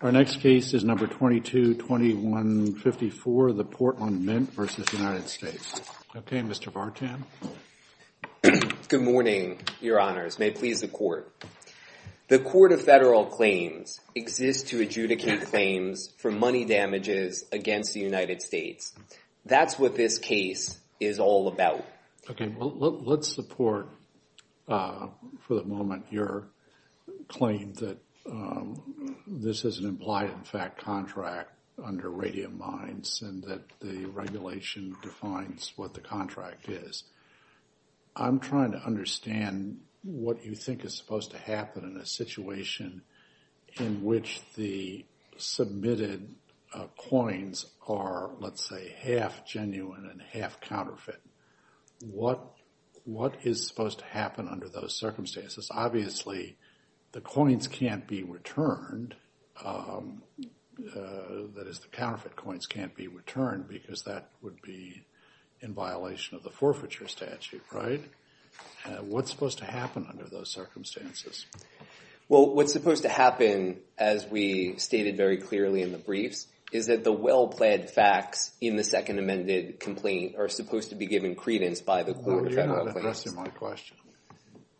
The Court of Federal Claims exists to adjudicate claims for money damages against the United States. That's what this case is all about. Okay, well let's support for the moment your claim that this is an implied in fact contract under Radium Mines and that the regulation defines what the contract is. I'm trying to understand what you think is supposed to happen in a situation in which the submitted coins are, let's say, half genuine and half counterfeit. What is supposed to happen under those circumstances? Obviously, the coins can't be returned, that is the counterfeit coins can't be returned, because that would be in violation of the forfeiture statute, right? What's supposed to happen under those circumstances? Well, what's supposed to happen, as we stated very clearly in the briefs, is that the well-planned facts in the Second Amended Complaint are supposed to be given credence by the Court of Federal Claims. No, you're not addressing my question.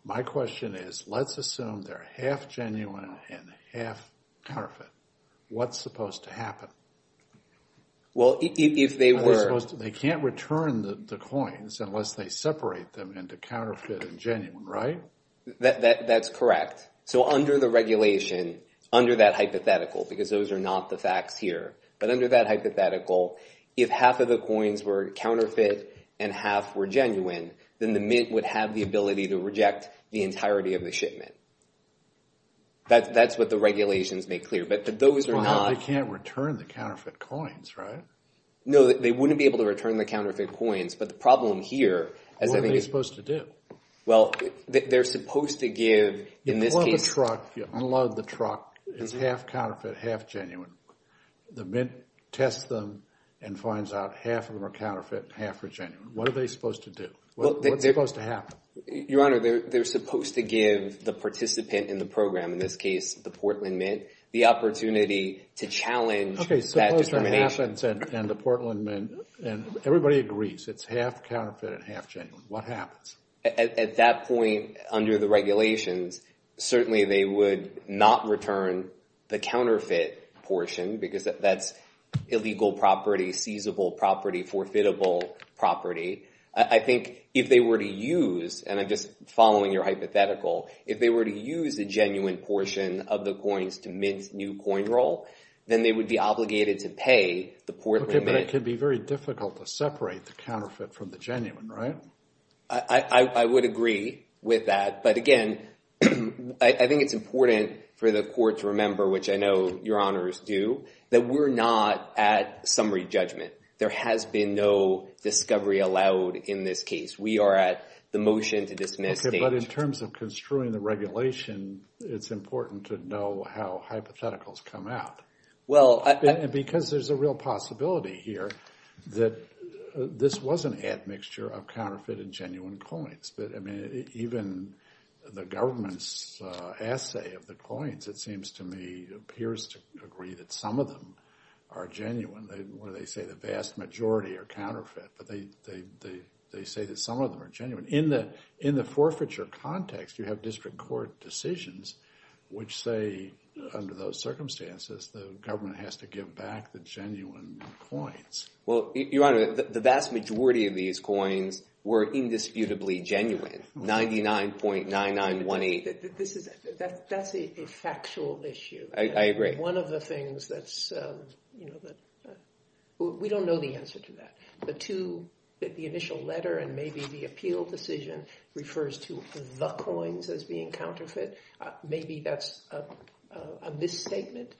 My question is, let's assume they're half genuine and half counterfeit. What's supposed to happen? Well, if they were... They can't return the coins unless they separate them into counterfeit and genuine, right? That's correct. So under the regulation, under that hypothetical, because those are not the facts here, but under that hypothetical, if half of the coins were counterfeit and half were genuine, then the Mint would have the ability to reject the entirety of the shipment. That's what the regulations make clear, but those are not... They can't return the counterfeit coins, right? No, they wouldn't be able to return the counterfeit coins, but the problem here... What are they supposed to do? Well, they're supposed to give... You unload the truck, it's half counterfeit, half genuine. The Mint tests them and finds out half of them are counterfeit and half are genuine. What are they supposed to do? What's supposed to happen? Your Honor, they're supposed to give the participant in the program, in this case, the Portland Mint, the opportunity to challenge that determination. Okay, suppose that happens and the Portland Mint, and everybody agrees, it's half counterfeit and half genuine. What happens? At that point, under the regulations, certainly they would not return the counterfeit portion, because that's illegal property, seizable property, forfeitable property. I think if they were to use, and I'm just following your hypothetical, if they were to use a genuine portion of the coins to mint new coin roll, then they would be obligated to pay the Portland Mint. Okay, but it could be very difficult to separate the counterfeit from the genuine, right? I would agree with that. But again, I think it's important for the court to remember, which I know your honors do, that we're not at summary judgment. There has been no discovery allowed in this case. We are at the motion to dismiss. Okay, but in terms of construing the regulation, it's important to know how hypotheticals come out. And because there's a real possibility here that this was an admixture of counterfeit and genuine coins. But I mean, even the government's assay of the coins, it seems to me, appears to agree that some of them are genuine, where they say the vast majority are counterfeit. But they say that some of them are genuine. In the forfeiture context, you have district court decisions which say, under those circumstances, the government has to give back the genuine coins. Well, your honor, the vast majority of these coins were indisputably genuine. 99.9918. That's a factual issue. I agree. One of the things that's, you know, we don't know the answer to that. The two, the initial letter and maybe the appeal decision refers to the coins as being counterfeit. Maybe that's a misstatement.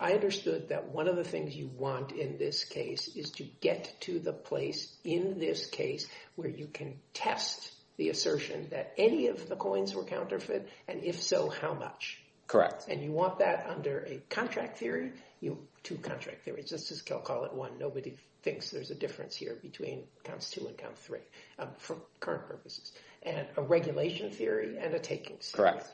I understood that one of the things you want in this case is to get to the place, in this case, where you can test the assertion that any of the coins were counterfeit. And if so, how much? Correct. And you want that under a contract theory. You have two contract theories. Let's just call it one. Nobody thinks there's a difference here between counts two and count three for current purposes. And a regulation theory and a taking theory. Correct.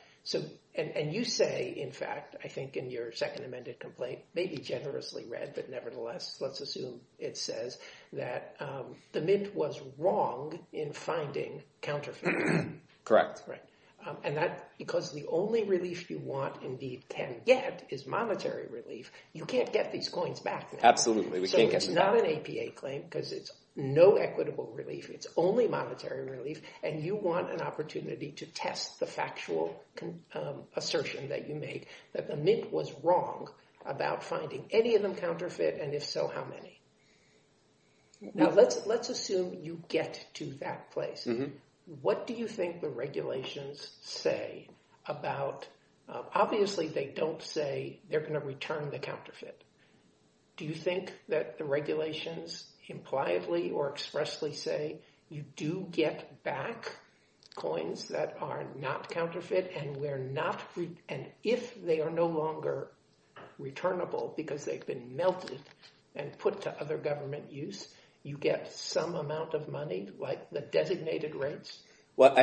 And you say, in fact, I think in your second amended complaint, maybe generously read, but nevertheless, let's assume it says that the Mint was wrong in finding counterfeit. Correct. And that's because the only relief you want, indeed can get, is monetary relief. You can't get these coins back. Absolutely. So it's not an APA claim because it's no equitable relief. It's only monetary relief. And you want an opportunity to test the factual assertion that you made, that the Mint was wrong about finding any of them counterfeit. And if so, how many? Now, let's assume you get to that place. What do you think the regulations say about... Obviously, they don't say they're going to return the counterfeit. Do you think that the regulations impliedly or expressly say you do get back coins that are not counterfeit and if they are no longer returnable because they've been melted and put to other government use, you get some amount of money, like the designated rates? Well,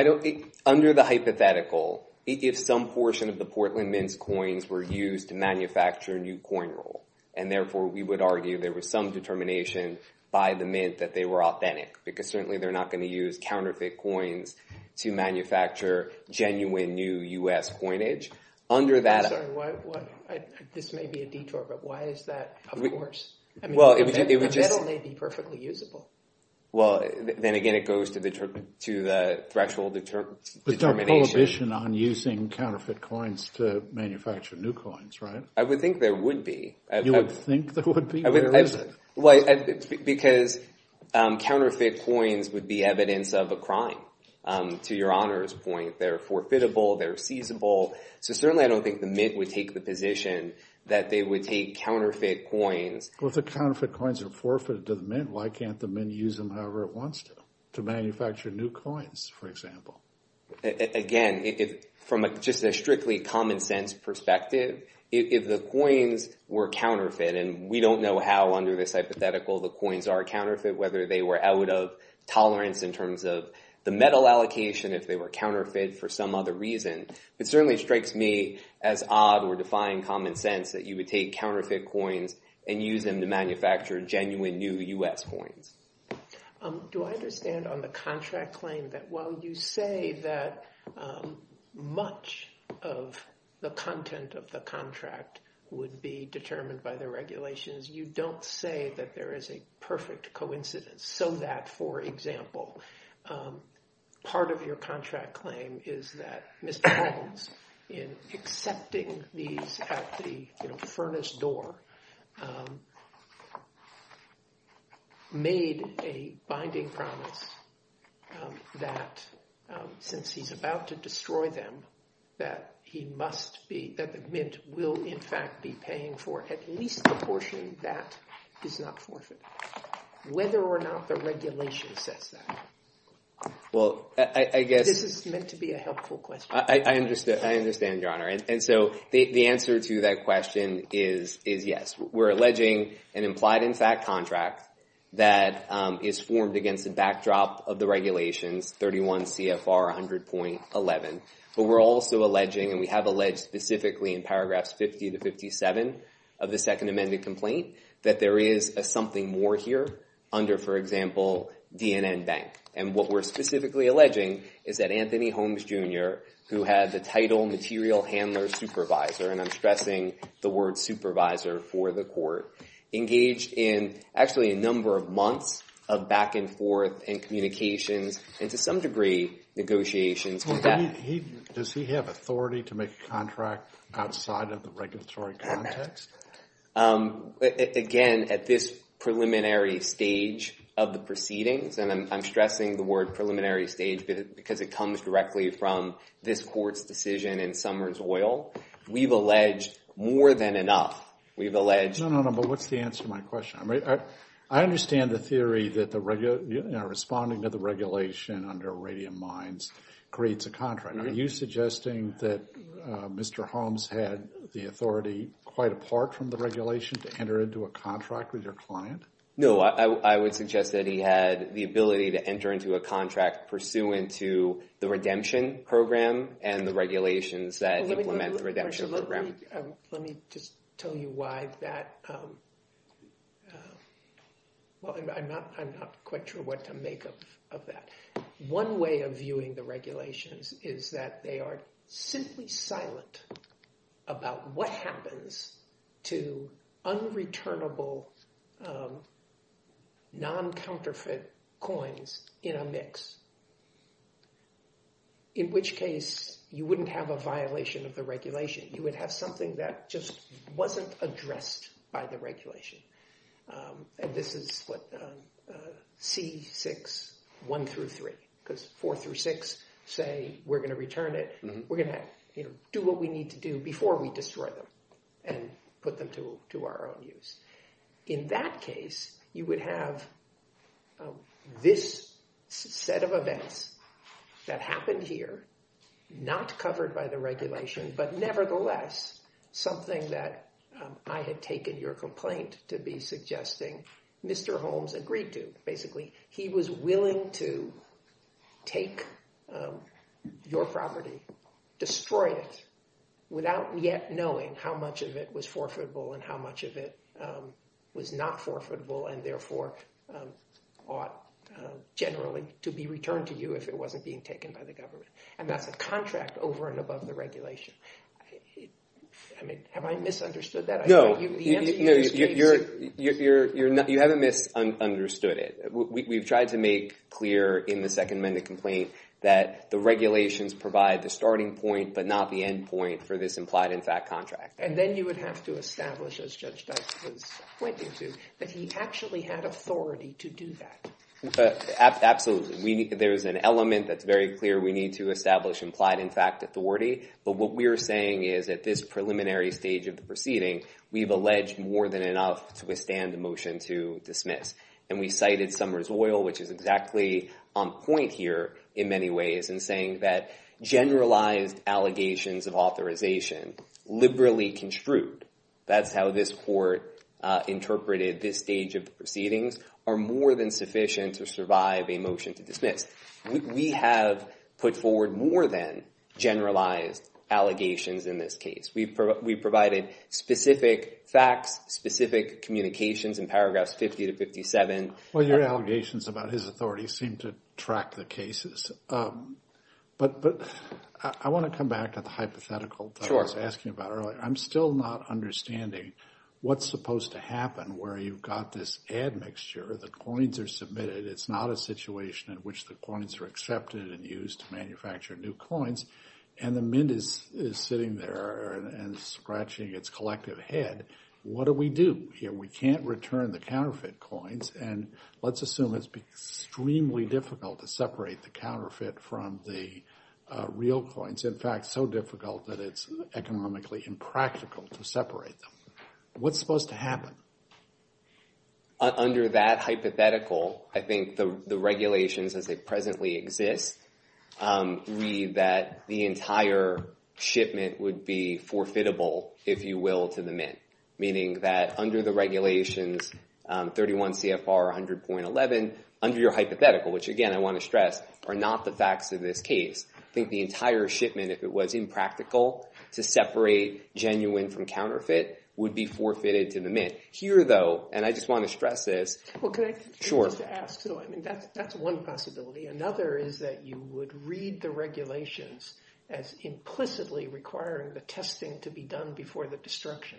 under the hypothetical, if some portion of the Portland Mint's coins were used to manufacture a new coin roll, and therefore we would argue there was some determination by the Mint that they were authentic, because certainly they're not going to use counterfeit coins to manufacture genuine new U.S. coinage. Under that... I'm sorry, this may be a detour, but why is that, of course? I mean, the metal may be perfectly usable. Well, then again, it goes to the threshold determination. There's no prohibition on using counterfeit coins to manufacture new coins, right? I would think there would be. You would think there would be? Well, because counterfeit coins would be evidence of a crime, to your honor's point. They're forfeitable, they're seizable. So certainly I don't think the Mint would take the position that they would take counterfeit coins... Well, if the counterfeit coins are forfeited to the Mint, why can't the Mint use them however it wants to, to manufacture new coins, for example? Again, from just a strictly common sense perspective, if the coins were counterfeit, and we don't know how under this hypothetical the coins are counterfeit, whether they were out of tolerance in terms of the metal allocation, if they were counterfeit for some other reason. It certainly strikes me as odd or defying common sense that you would take counterfeit coins and use them to manufacture genuine new U.S. coins. Do I understand on the contract claim that while you say that much of the content of the contract would be determined by the regulations, you don't say that there is a perfect coincidence? So that, for example, part of your contract claim is that Mr. Adams, in accepting these at the furnace door, made a binding promise that since he's about to destroy them, that he must be... that the Mint will, in fact, be paying for at least the portion that is not forfeited, whether or not the regulation says that. Well, I guess... This is meant to be a helpful question. I understand, Your Honor. And so the answer to that question is yes. We're alleging an implied-in-fact contract that is formed against the backdrop of the regulations, 31 CFR 100.11. But we're also alleging, and we have alleged specifically in paragraphs 50 to 57 of the second amended complaint, that there is something more here under, for example, DNN Bank. And what we're specifically alleging is that Anthony Holmes Jr., who had the title material handler supervisor, and I'm stressing the word supervisor for the court, engaged in actually a number of months of back and forth and communications and to some degree negotiations. Does he have authority to make a contract outside of the regulatory context? Again, at this preliminary stage of the proceedings, and I'm stressing the word preliminary stage because it comes directly from this court's decision and Summers Oil, we've alleged more than enough. We've alleged... No, no, no. But what's the answer to my question? I understand the theory that responding to the regulation under Radium Mines creates a contract. Are you suggesting that Mr. Holmes had the authority quite apart from the regulation No, I would suggest that he had the ability to enter a contract pursuant to the redemption program and the regulations that implement the redemption program. Let me just tell you why that... Well, I'm not quite sure what to make of that. One way of viewing the regulations is that they are simply silent about what happens to unreturnable non-counterfeit coins in a mix. In which case, you wouldn't have a violation of the regulation. You would have something that just wasn't addressed by the regulation. And this is what C6, one through three, because four through six say, we're going to return it. We're going to do what we need to do before we destroy them. And put them to our own use. In that case, you would have this set of events that happened here, not covered by the regulation. But nevertheless, something that I had taken your complaint to be suggesting Mr. Holmes agreed to. Basically, he was willing to take your property, destroy it, without yet knowing how much of it was forfeitable and how much of it was not forfeitable. And therefore, ought generally to be returned to you if it wasn't being taken by the government. And that's a contract over and above the regulation. I mean, have I misunderstood that? No, you haven't misunderstood it. We've tried to make clear in the second amended complaint that the regulations provide the starting point, but not the end point for this implied-in-fact contract. And then you would have to establish, as Judge Dykstra was pointing to, that he actually had authority to do that. Absolutely. There's an element that's very clear. We need to establish implied-in-fact authority. But what we're saying is, at this preliminary stage of the proceeding, we've alleged more than enough to withstand the motion to dismiss. And we cited Summers Oil, which is exactly on point here in many ways, in saying that generalized allegations of authorization liberally construe, that's how this court interpreted this stage of the proceedings, are more than sufficient to survive a motion to dismiss. We have put forward more than generalized allegations in this case. We provided specific facts, specific communications in paragraphs 50 to 57. Well, your allegations about his authority seem to track the cases. But I want to come back to the hypothetical that I was asking about earlier. I'm still not understanding what's supposed to happen where you've got this ad mixture, the coins are submitted, it's not a situation in which the coins are accepted and used to manufacture new coins, and the mint is sitting there and scratching its collective head. What do we do here? We can't return the counterfeit coins. And let's assume it's extremely difficult to separate the counterfeit from the real coins. In fact, so difficult that it's economically impractical to separate them. What's supposed to happen? Under that hypothetical, I think the regulations as they presently exist read that the entire shipment would be forfeitable, if you will, to the mint. Meaning that under the regulations, 31 CFR 100.11, under your hypothetical, which again, I want to stress, are not the facts of this case. I think the entire shipment, if it was impractical, to separate genuine from counterfeit would be forfeited to the mint. Here though, and I just want to stress this. Well, can I just ask, I mean, that's one possibility. Another is that you would read the regulations as implicitly requiring the testing to be done before the destruction.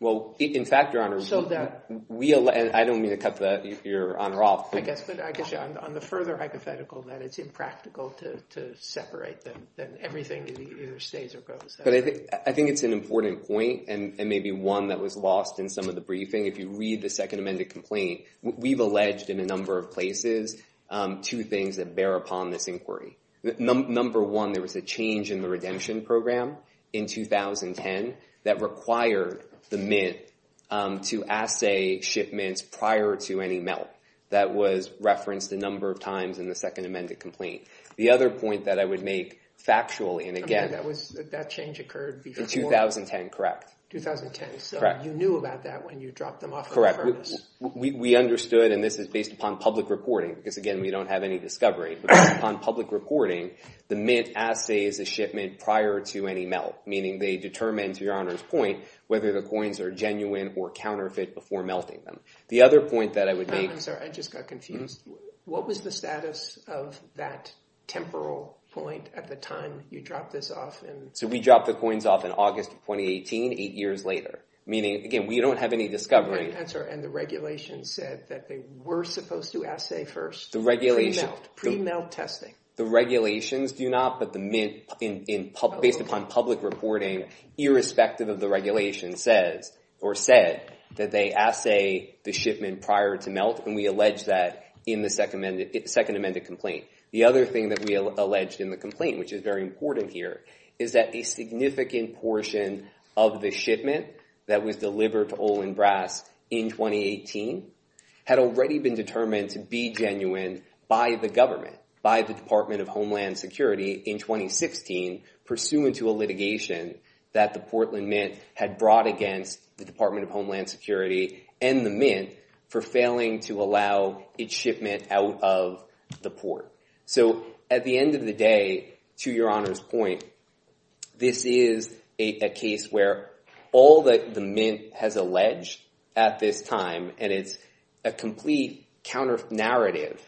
Well, in fact, your honor, I don't mean to cut your honor off. I guess, but on the further hypothetical that it's impractical to separate them, then everything either stays or goes. But I think it's an important point and maybe one that was lost in some of the briefing. If you read the second amended complaint, we've alleged in a number of places two things that bear upon this inquiry. Number one, there was a change in the redemption program in 2010 that required the mint to assay shipments prior to any melt. That was referenced a number of times in the second amended complaint. The other point that I would make factually, and again- I mean, that change occurred before- In 2010, correct. 2010, so you knew about that when you dropped them off the furnace. Correct. We understood, and this is based upon public reporting, because again, we don't have any discovery. But based upon public reporting, the mint assays a shipment prior to any melt, meaning they determine, to Your Honor's point, whether the coins are genuine or counterfeit before melting them. The other point that I would make- No, I'm sorry. I just got confused. What was the status of that temporal point at the time you dropped this off? So we dropped the coins off in August of 2018, eight years later, meaning, again, we don't have any discovery. That's right, and the regulations said that they were supposed to assay first- The regulation- Pre-melt testing. The regulations do not, but based upon public reporting, irrespective of the regulation, or said that they assay the shipment prior to melt, and we allege that in the second amended complaint. The other thing that we alleged in the complaint, which is very important here, is that a significant portion of the shipment that was delivered to Olin Brass in 2018 had already been determined to be genuine by the government, by the Department of Homeland Security in 2016, pursuant to a litigation that the Portland Mint had brought against the Department of Homeland Security and the Mint for failing to allow its shipment out of the port. So at the end of the day, to your Honor's point, this is a case where all that the Mint has alleged at this time, and it's a complete counter-narrative.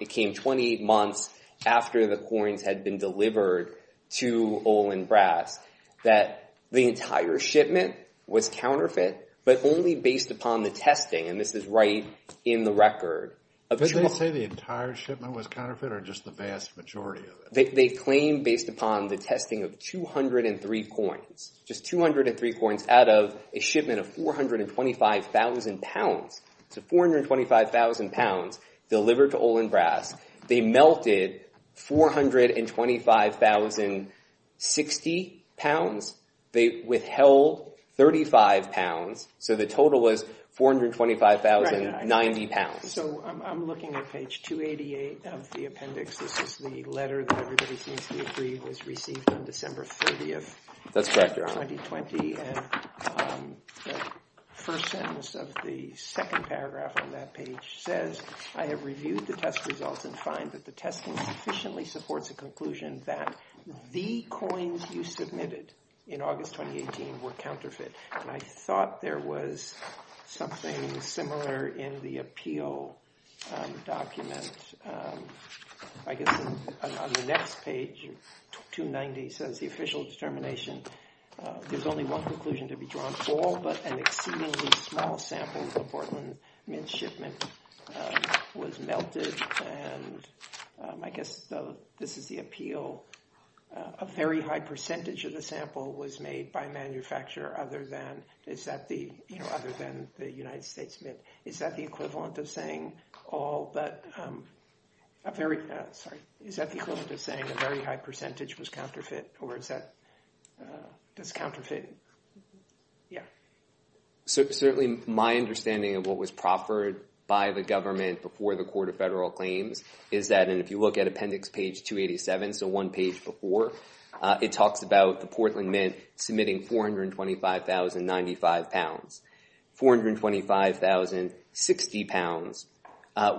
It came 28 months after the coins had been delivered to Olin Brass that the entire shipment was counterfeit, but only based upon the testing, and this is right in the record. Did they say the entire shipment was counterfeit or just the vast majority of it? They claim based upon the testing of 203 coins, just 203 coins out of a shipment of 425,000 pounds. So 425,000 pounds delivered to Olin Brass. They melted 425,060 pounds. They withheld 35 pounds. So the total was 425,090 pounds. So I'm looking at page 288 of the appendix. This is the letter that everybody seems to agree was received on December 30th of 2020, and the first sentence of the second paragraph on that page says, I have reviewed the test results and find that the testing sufficiently supports a conclusion that the coins you submitted in August 2018 were counterfeit, and I thought there was something similar in the appeal document. I guess on the next page, 290, says the official determination, there's only one conclusion to be drawn, all but an exceedingly small sample of Portland Mint shipment was melted, and I guess this is the appeal. A very high percentage of the sample was made by a manufacturer other than the United States Mint. Is that the equivalent of saying all but a very, sorry, is that the equivalent of saying a very high percentage was counterfeit, or is that, does counterfeit, yeah. So certainly my understanding of what was proffered by the government before the Court of Federal Claims is that, and if you look at appendix page 287, so one page before, it talks about the Portland Mint submitting 425,095 pounds. 425,060 pounds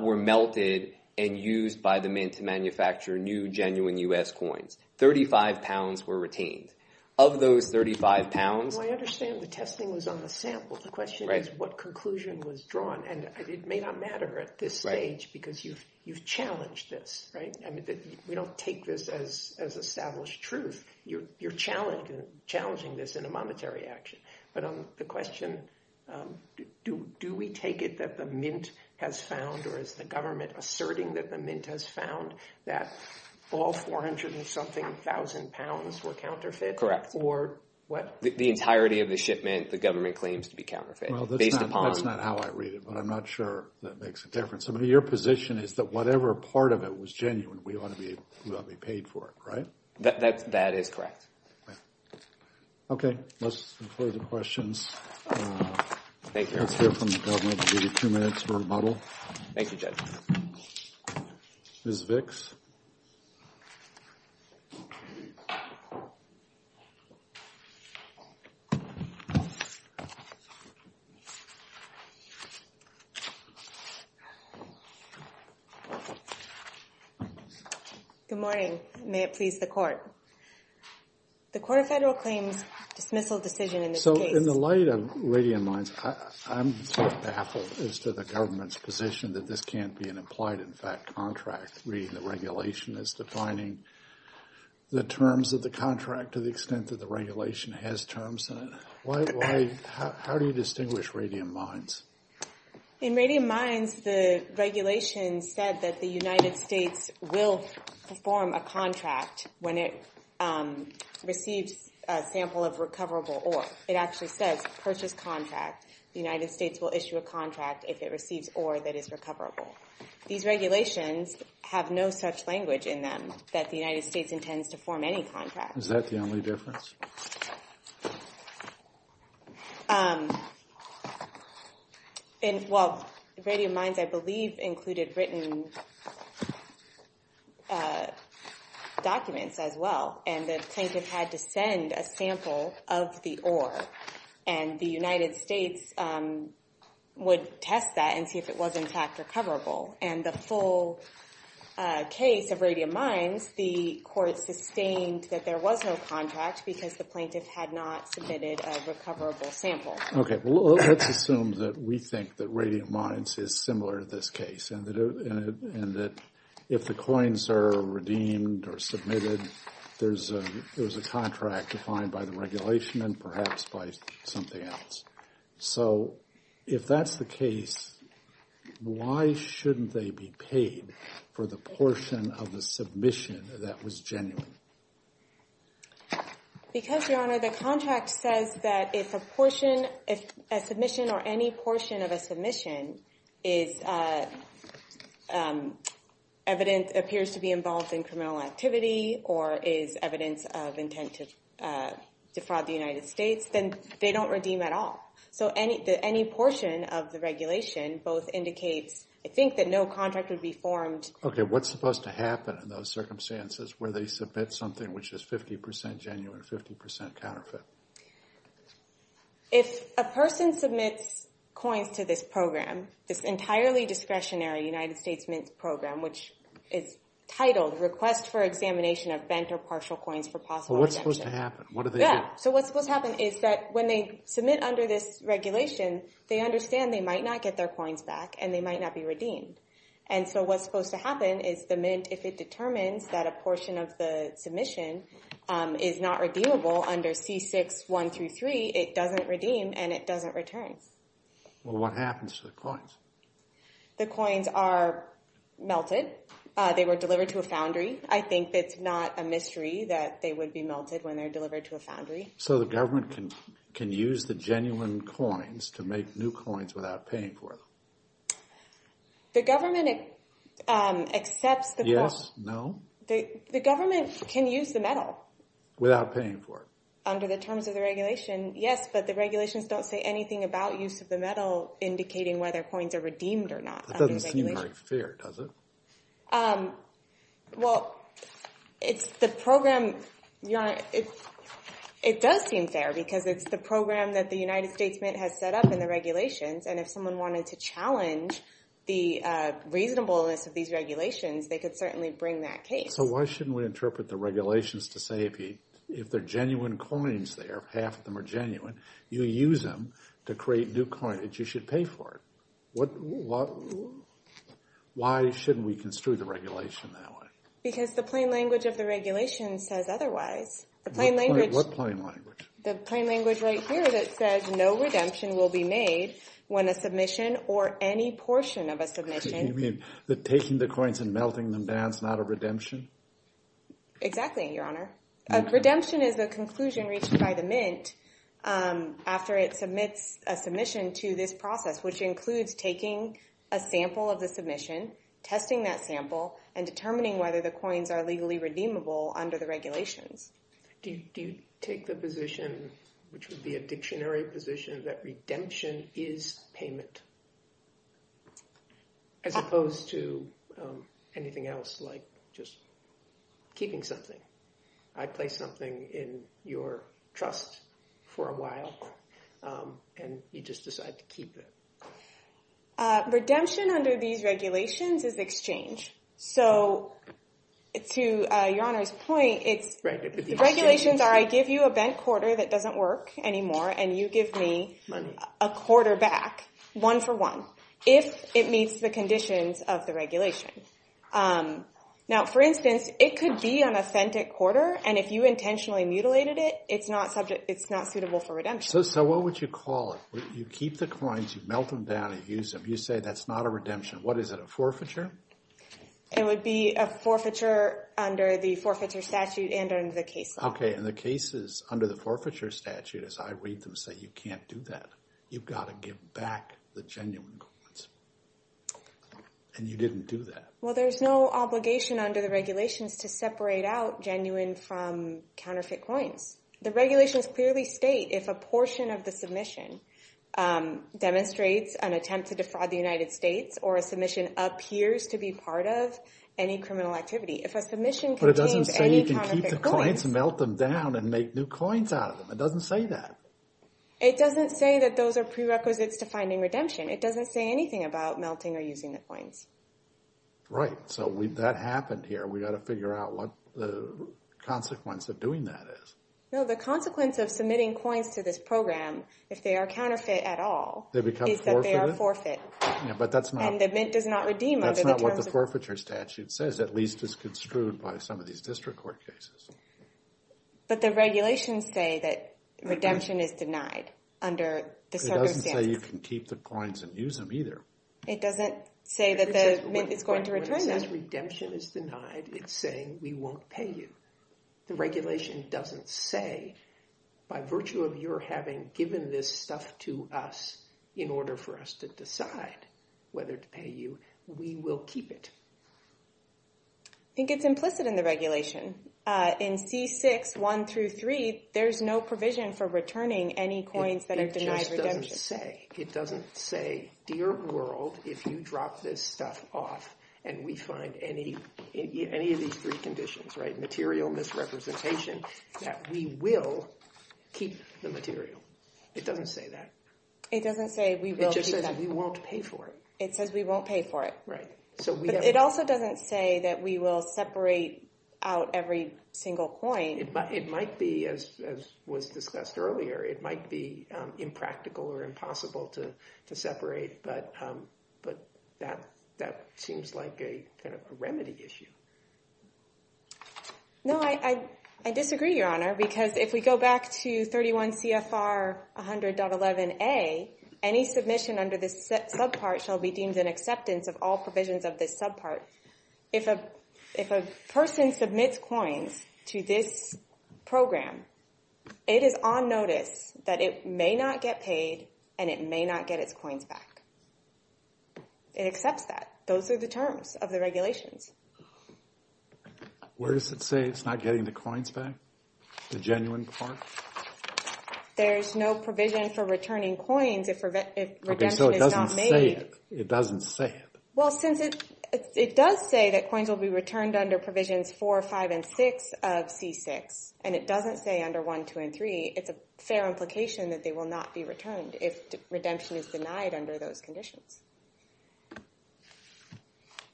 were melted and used by the Mint to manufacture new genuine U.S. coins. 35 pounds were retained. Of those 35 pounds, I understand the testing was on the sample. The question is what conclusion was drawn, and it may not matter at this stage because you've challenged this, right? I mean, we don't take this as established truth. You're challenging this in a monetary action. But on the question, do we take it that the Mint has found, or is the government asserting that the Mint has found that all 400 and something thousand pounds were counterfeit? Correct. Or what? The entirety of the shipment the government claims to be counterfeit. Well, that's not how I read it, but I'm not sure that makes a difference. I mean, your position is that whatever part of it was genuine, we ought to be paid for it, right? That is correct. Okay, let's include the questions. Thank you. Let's hear from the government. We'll give you two minutes for rebuttal. Thank you, Judge. Ms. Vicks? Thank you. Good morning. May it please the Court. The Court of Federal Claims dismissal decision in this case. So in the light of radiant minds, I'm baffled as to the government's position that this can't be an implied, in fact, contract. Reading the regulation is defining the terms of the contract to the extent that the regulation has terms in it. How do you distinguish radiant minds? In radiant minds, the regulation said that the United States will perform a contract when it receives a sample of recoverable ore. It actually says purchase contract. The United States will issue a contract if it receives ore that is recoverable. These regulations have no such language in them that the United States intends to form any contract. Is that the only difference? Well, radiant minds, I believe, included written documents as well. And the plaintiff had to send a sample of the ore. And the United States would test that and see if it was, in fact, recoverable. And the full case of radiant minds, the court sustained that there was no contract because the plaintiff had not submitted a recoverable sample. OK, well, let's assume that we think that radiant minds is similar to this case and that if the coins are redeemed or submitted, there's a contract defined by the regulation and perhaps by something else. So if that's the case, why shouldn't they be paid for the portion of the submission that was genuine? Because, Your Honor, the contract says that if a portion, if a submission or any portion of a submission appears to be involved in criminal activity or is evidence of intent to defraud the United States, then they don't redeem at all. So any portion of the regulation both indicates, I think, that no contract would be formed. OK, what's supposed to happen in those circumstances where they submit something which is 50% genuine, 50% counterfeit? If a person submits coins to this program, this entirely discretionary United States Mint program, which is titled Request for Examination of Bent or Partial Coins for Possible Redemption. Well, what's supposed to happen? What do they do? Yeah, so what's supposed to happen is that when they submit under this regulation, they understand they might not get their coins back and they might not be redeemed. And so what's supposed to happen is the Mint, if it determines that a portion of the submission is not redeemable under C6-1-3, it doesn't redeem and it doesn't return. Well, what happens to the coins? The coins are melted. They were delivered to a foundry. I think it's not a mystery that they would be melted when they're delivered to a foundry. So the government can use the genuine coins to make new coins without paying for them? The government accepts the- Yes, no. The government can use the metal. Without paying for it. Under the terms of the regulation, yes, but the regulations don't say anything about use of the metal indicating whether coins are redeemed or not. That doesn't seem very fair, does it? Well, it's the program, it does seem fair because it's the program that the United States Mint has set up in the regulations. And if someone wanted to challenge the reasonableness of these regulations, they could certainly bring that case. So why shouldn't we interpret the regulations to say if they're genuine coins there, half of them are genuine, you use them to create new coinage, you should pay for it. Why shouldn't we construe the regulation that way? Because the plain language of the regulation says otherwise. The plain language- What plain language? The plain language right here that says no redemption will be made when a submission or any portion of a submission- Because you mean that taking the coins and melting them down is not a redemption? Exactly, Your Honor. Redemption is the conclusion reached by the Mint after it submits a submission to this process, which includes taking a sample of the submission, testing that sample, and determining whether the coins are legally redeemable under the regulations. Do you take the position, which would be a dictionary position, that redemption is payment as opposed to anything else like just keeping something? I place something in your trust for a while and you just decide to keep it. Redemption under these regulations is exchange. So to Your Honor's point, the regulations are, I give you a bent quarter that doesn't work anymore and you give me a quarter back one for one if it meets the conditions of the regulation. Now, for instance, it could be an authentic quarter and if you intentionally mutilated it, it's not suitable for redemption. So what would you call it? You keep the coins, you melt them down, you use them, you say that's not a redemption. What is it, a forfeiture? It would be a forfeiture under the forfeiture statute and under the case law. Okay, and the cases under the forfeiture statute as I read them say, you can't do that. You've got to give back the genuine coins and you didn't do that. Well, there's no obligation under the regulations to separate out genuine from counterfeit coins. The regulations clearly state if a portion of the submission demonstrates an attempt to defraud the United States or a submission appears to be part of any criminal activity. If a submission contains any counterfeit coins- But it doesn't say you can keep the coins, melt them down and make new coins out of them. It doesn't say that. It doesn't say that those are prerequisites to finding redemption. It doesn't say anything about melting or using the coins. Right, so that happened here. We've got to figure out what the consequence of doing that is. No, the consequence of submitting coins to this program if they are counterfeit at all- They become forfeited? Is that they are forfeit. Yeah, but that's not- And the mint does not redeem under the terms of- That's not what the forfeiture statute says, at least as construed by some of these district court cases. But the regulations say that redemption is denied under the circumstances. It doesn't say you can keep the coins and use them either. It doesn't say that the mint is going to return them. When it says redemption is denied, it's saying we won't pay you. The regulation doesn't say, by virtue of your having given this stuff to us in order for us to decide whether to pay you, we will keep it. I think it's implicit in the regulation. In C6, 1 through 3, there's no provision for returning any coins that are denied redemption. It just doesn't say. It doesn't say, dear world, if you drop this stuff off and we find any of these three conditions, right, material misrepresentation, that we will keep the material. It doesn't say that. It doesn't say we will keep that. It just says we won't pay for it. It says we won't pay for it. Right, so we have- But it also doesn't say that we will separate out every single coin. It might be, as was discussed earlier, it might be impractical or impossible to separate, but that seems like a kind of a remedy issue. No, I disagree, Your Honor, because if we go back to 31 CFR 100.11a, any submission under this subpart shall be deemed an acceptance of all provisions of this subpart. If a person submits coins to this program, it is on notice that it may not get paid and it may not get its coins back. It accepts that. Those are the terms of the regulations. Where does it say it's not getting the coins back? The genuine part? There's no provision for returning coins if redemption is not made. Okay, so it doesn't say it. It doesn't say it. Well, since it does say that coins will be returned under provisions four, five, and six of C6, and it doesn't say under one, two, and three, it's a fair implication that they will not be returned if redemption is denied under those conditions.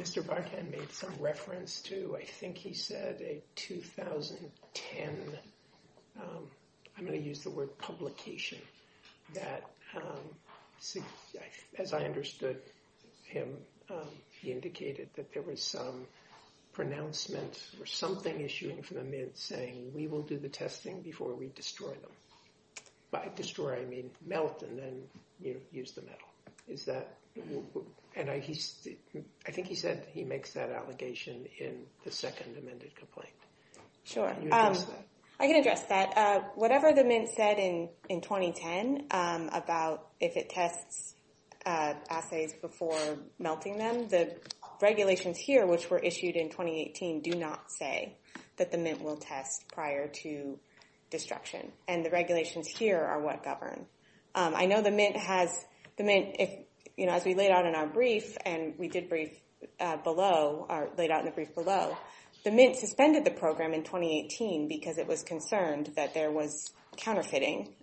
Mr. Barton made some reference to, I think he said a 2010, I'm going to use the word publication, that as I understood him, he indicated that there was some pronouncement or something issuing from the Mint saying we will do the testing before we destroy them. By destroy, I mean melt and then use the metal. I think he said he makes that allegation in the second amended complaint. Sure, I can address that. Whatever the Mint said in 2010 about if it tests assays before melting them, the regulations here, which were issued in 2018, do not say that the Mint will test prior to destruction, and the regulations here are what govern. I know the Mint has, as we laid out in our brief, and we did brief below, or laid out in the brief below, the Mint suspended the program in 2018 because it was concerned that there was counterfeiting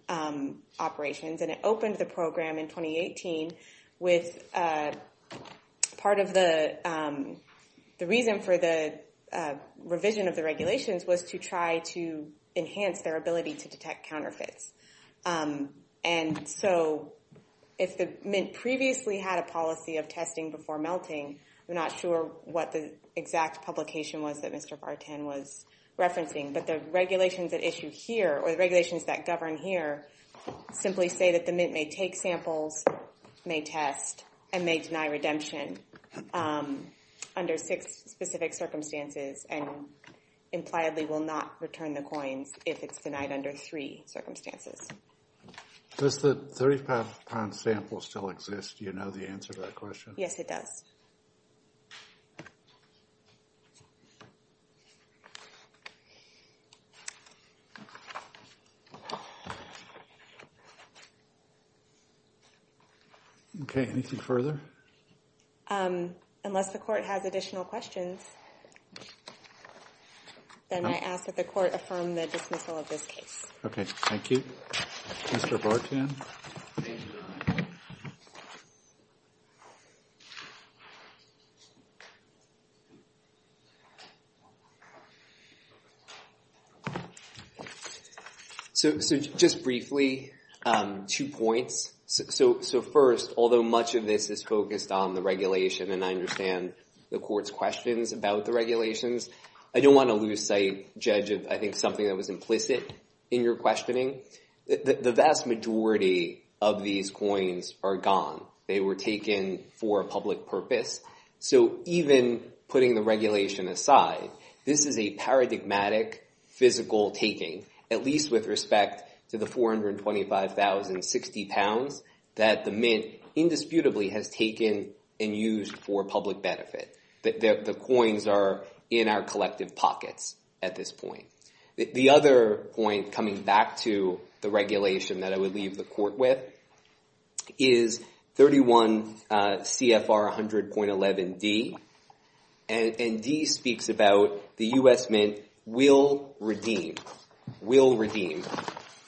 operations, and it opened the program in 2018 with part of the reason for the revision of the regulations was to try to enhance their ability to detect counterfeits. And so if the Mint previously had a policy of testing before melting, I'm not sure what the exact publication was that Mr. Bartan was referencing, but the regulations that issue here, or the regulations that govern here, simply say that the Mint may take samples, may test, and may deny redemption under six specific circumstances, and impliedly will not return the coins if it's denied under three circumstances. Does the 35-pound sample still exist? Do you know the answer to that question? Yes, it does. Okay, anything further? Unless the court has additional questions, then I ask that the court affirm the dismissal of this case. Okay, thank you. Mr. Bartan? So just briefly, two points. So first, although much of this is focused on the regulation, and I understand the court's questions about the regulations, I don't want to lose sight, Judge, of I think something that was implicit in your questioning. The vast majority of these coins are gone. They were taken for a public purpose. So even putting the regulation aside, this is a paradigmatic physical taking, at least with respect to the 425,060 pounds that the Mint indisputably has taken and used for public benefit. The coins are in our collective pockets at this point. The other point coming back to the regulation that I would leave the court with is 31 CFR 100.11D, and D speaks about the U.S. Mint will redeem, will redeem,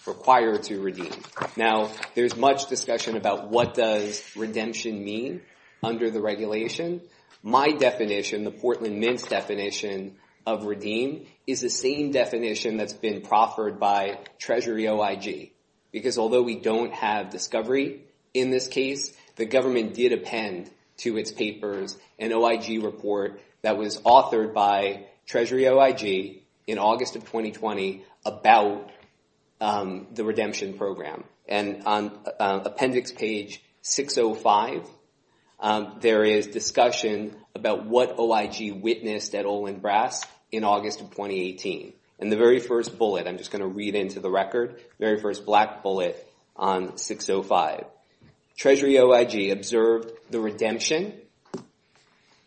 require to redeem. Now, there's much discussion about what does redemption mean under the regulation. My definition, the Portland Mint's definition of redeem is the same definition that's been proffered by Treasury OIG, because although we don't have discovery in this case, the government did append to its papers an OIG report that was authored by Treasury OIG in August of 2020 about the redemption program. And on appendix page 605, there is discussion about what OIG witnessed at Olin Brass in August of 2018. And the very first bullet, I'm just going to read into the record, very first black bullet on 605. Treasury OIG observed the redemption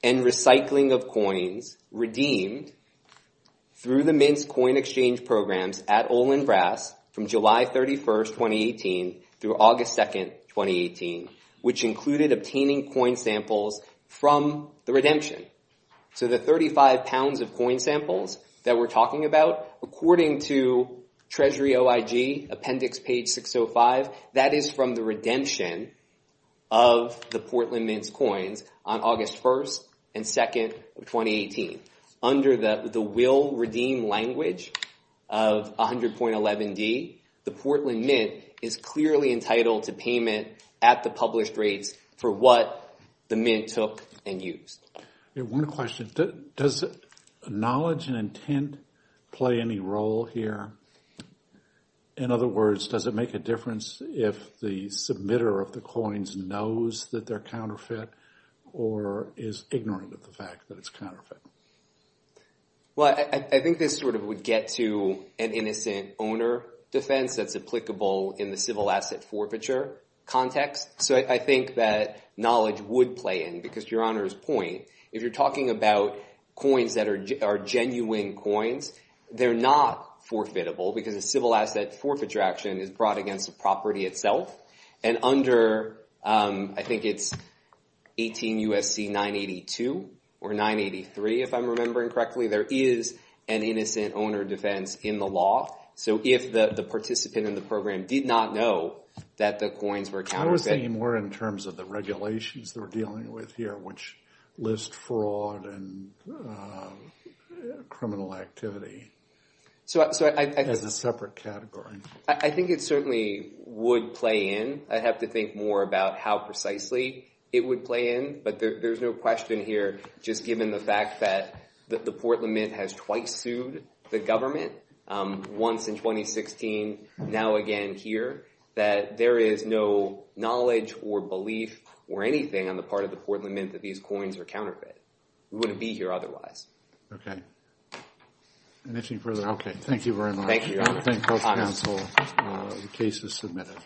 and recycling of coins redeemed through the Mint's coin exchange programs at Olin Brass from July 31st, 2018 through August 2nd, 2018, which included obtaining coin samples from the redemption. So the 35 pounds of coin samples that we're talking about, according to Treasury OIG, appendix page 605, that is from the redemption of the Portland Mint's coins on August 1st and 2nd of 2018. Under the will redeem language of 100.11d, the Portland Mint is clearly entitled to payment at the published rates for what the Mint took and used. Yeah, one question. Does knowledge and intent play any role here? In other words, does it make a difference if the submitter of the coins knows that they're counterfeit or is ignorant of the fact that it's counterfeit? Well, I think this sort of would get to an innocent owner defense that's applicable in the civil asset forfeiture context. So I think that knowledge would play in because your honor's point, if you're talking about coins that are genuine coins, they're not forfeitable because a civil asset forfeiture action is brought against the property itself. And under, I think it's 18 U.S.C. 982 or 983, if I'm remembering correctly, there is an innocent owner defense in the law. So if the participant in the program did not know that the coins were counterfeit... I was thinking more in terms of the regulations they're dealing with here, which list fraud and criminal activity as a separate category. I think it certainly would play in. I'd have to think more about how precisely it would play in. But there's no question here, just given the fact that the Port Lament has twice sued the government, once in 2016, now again here, that there is no knowledge or belief or anything on the part of the Port Lament that these coins are counterfeit. We wouldn't be here otherwise. Okay. Anything further? Okay, thank you very much. Thank you, Your Honor. I thank both counsel. The case is submitted.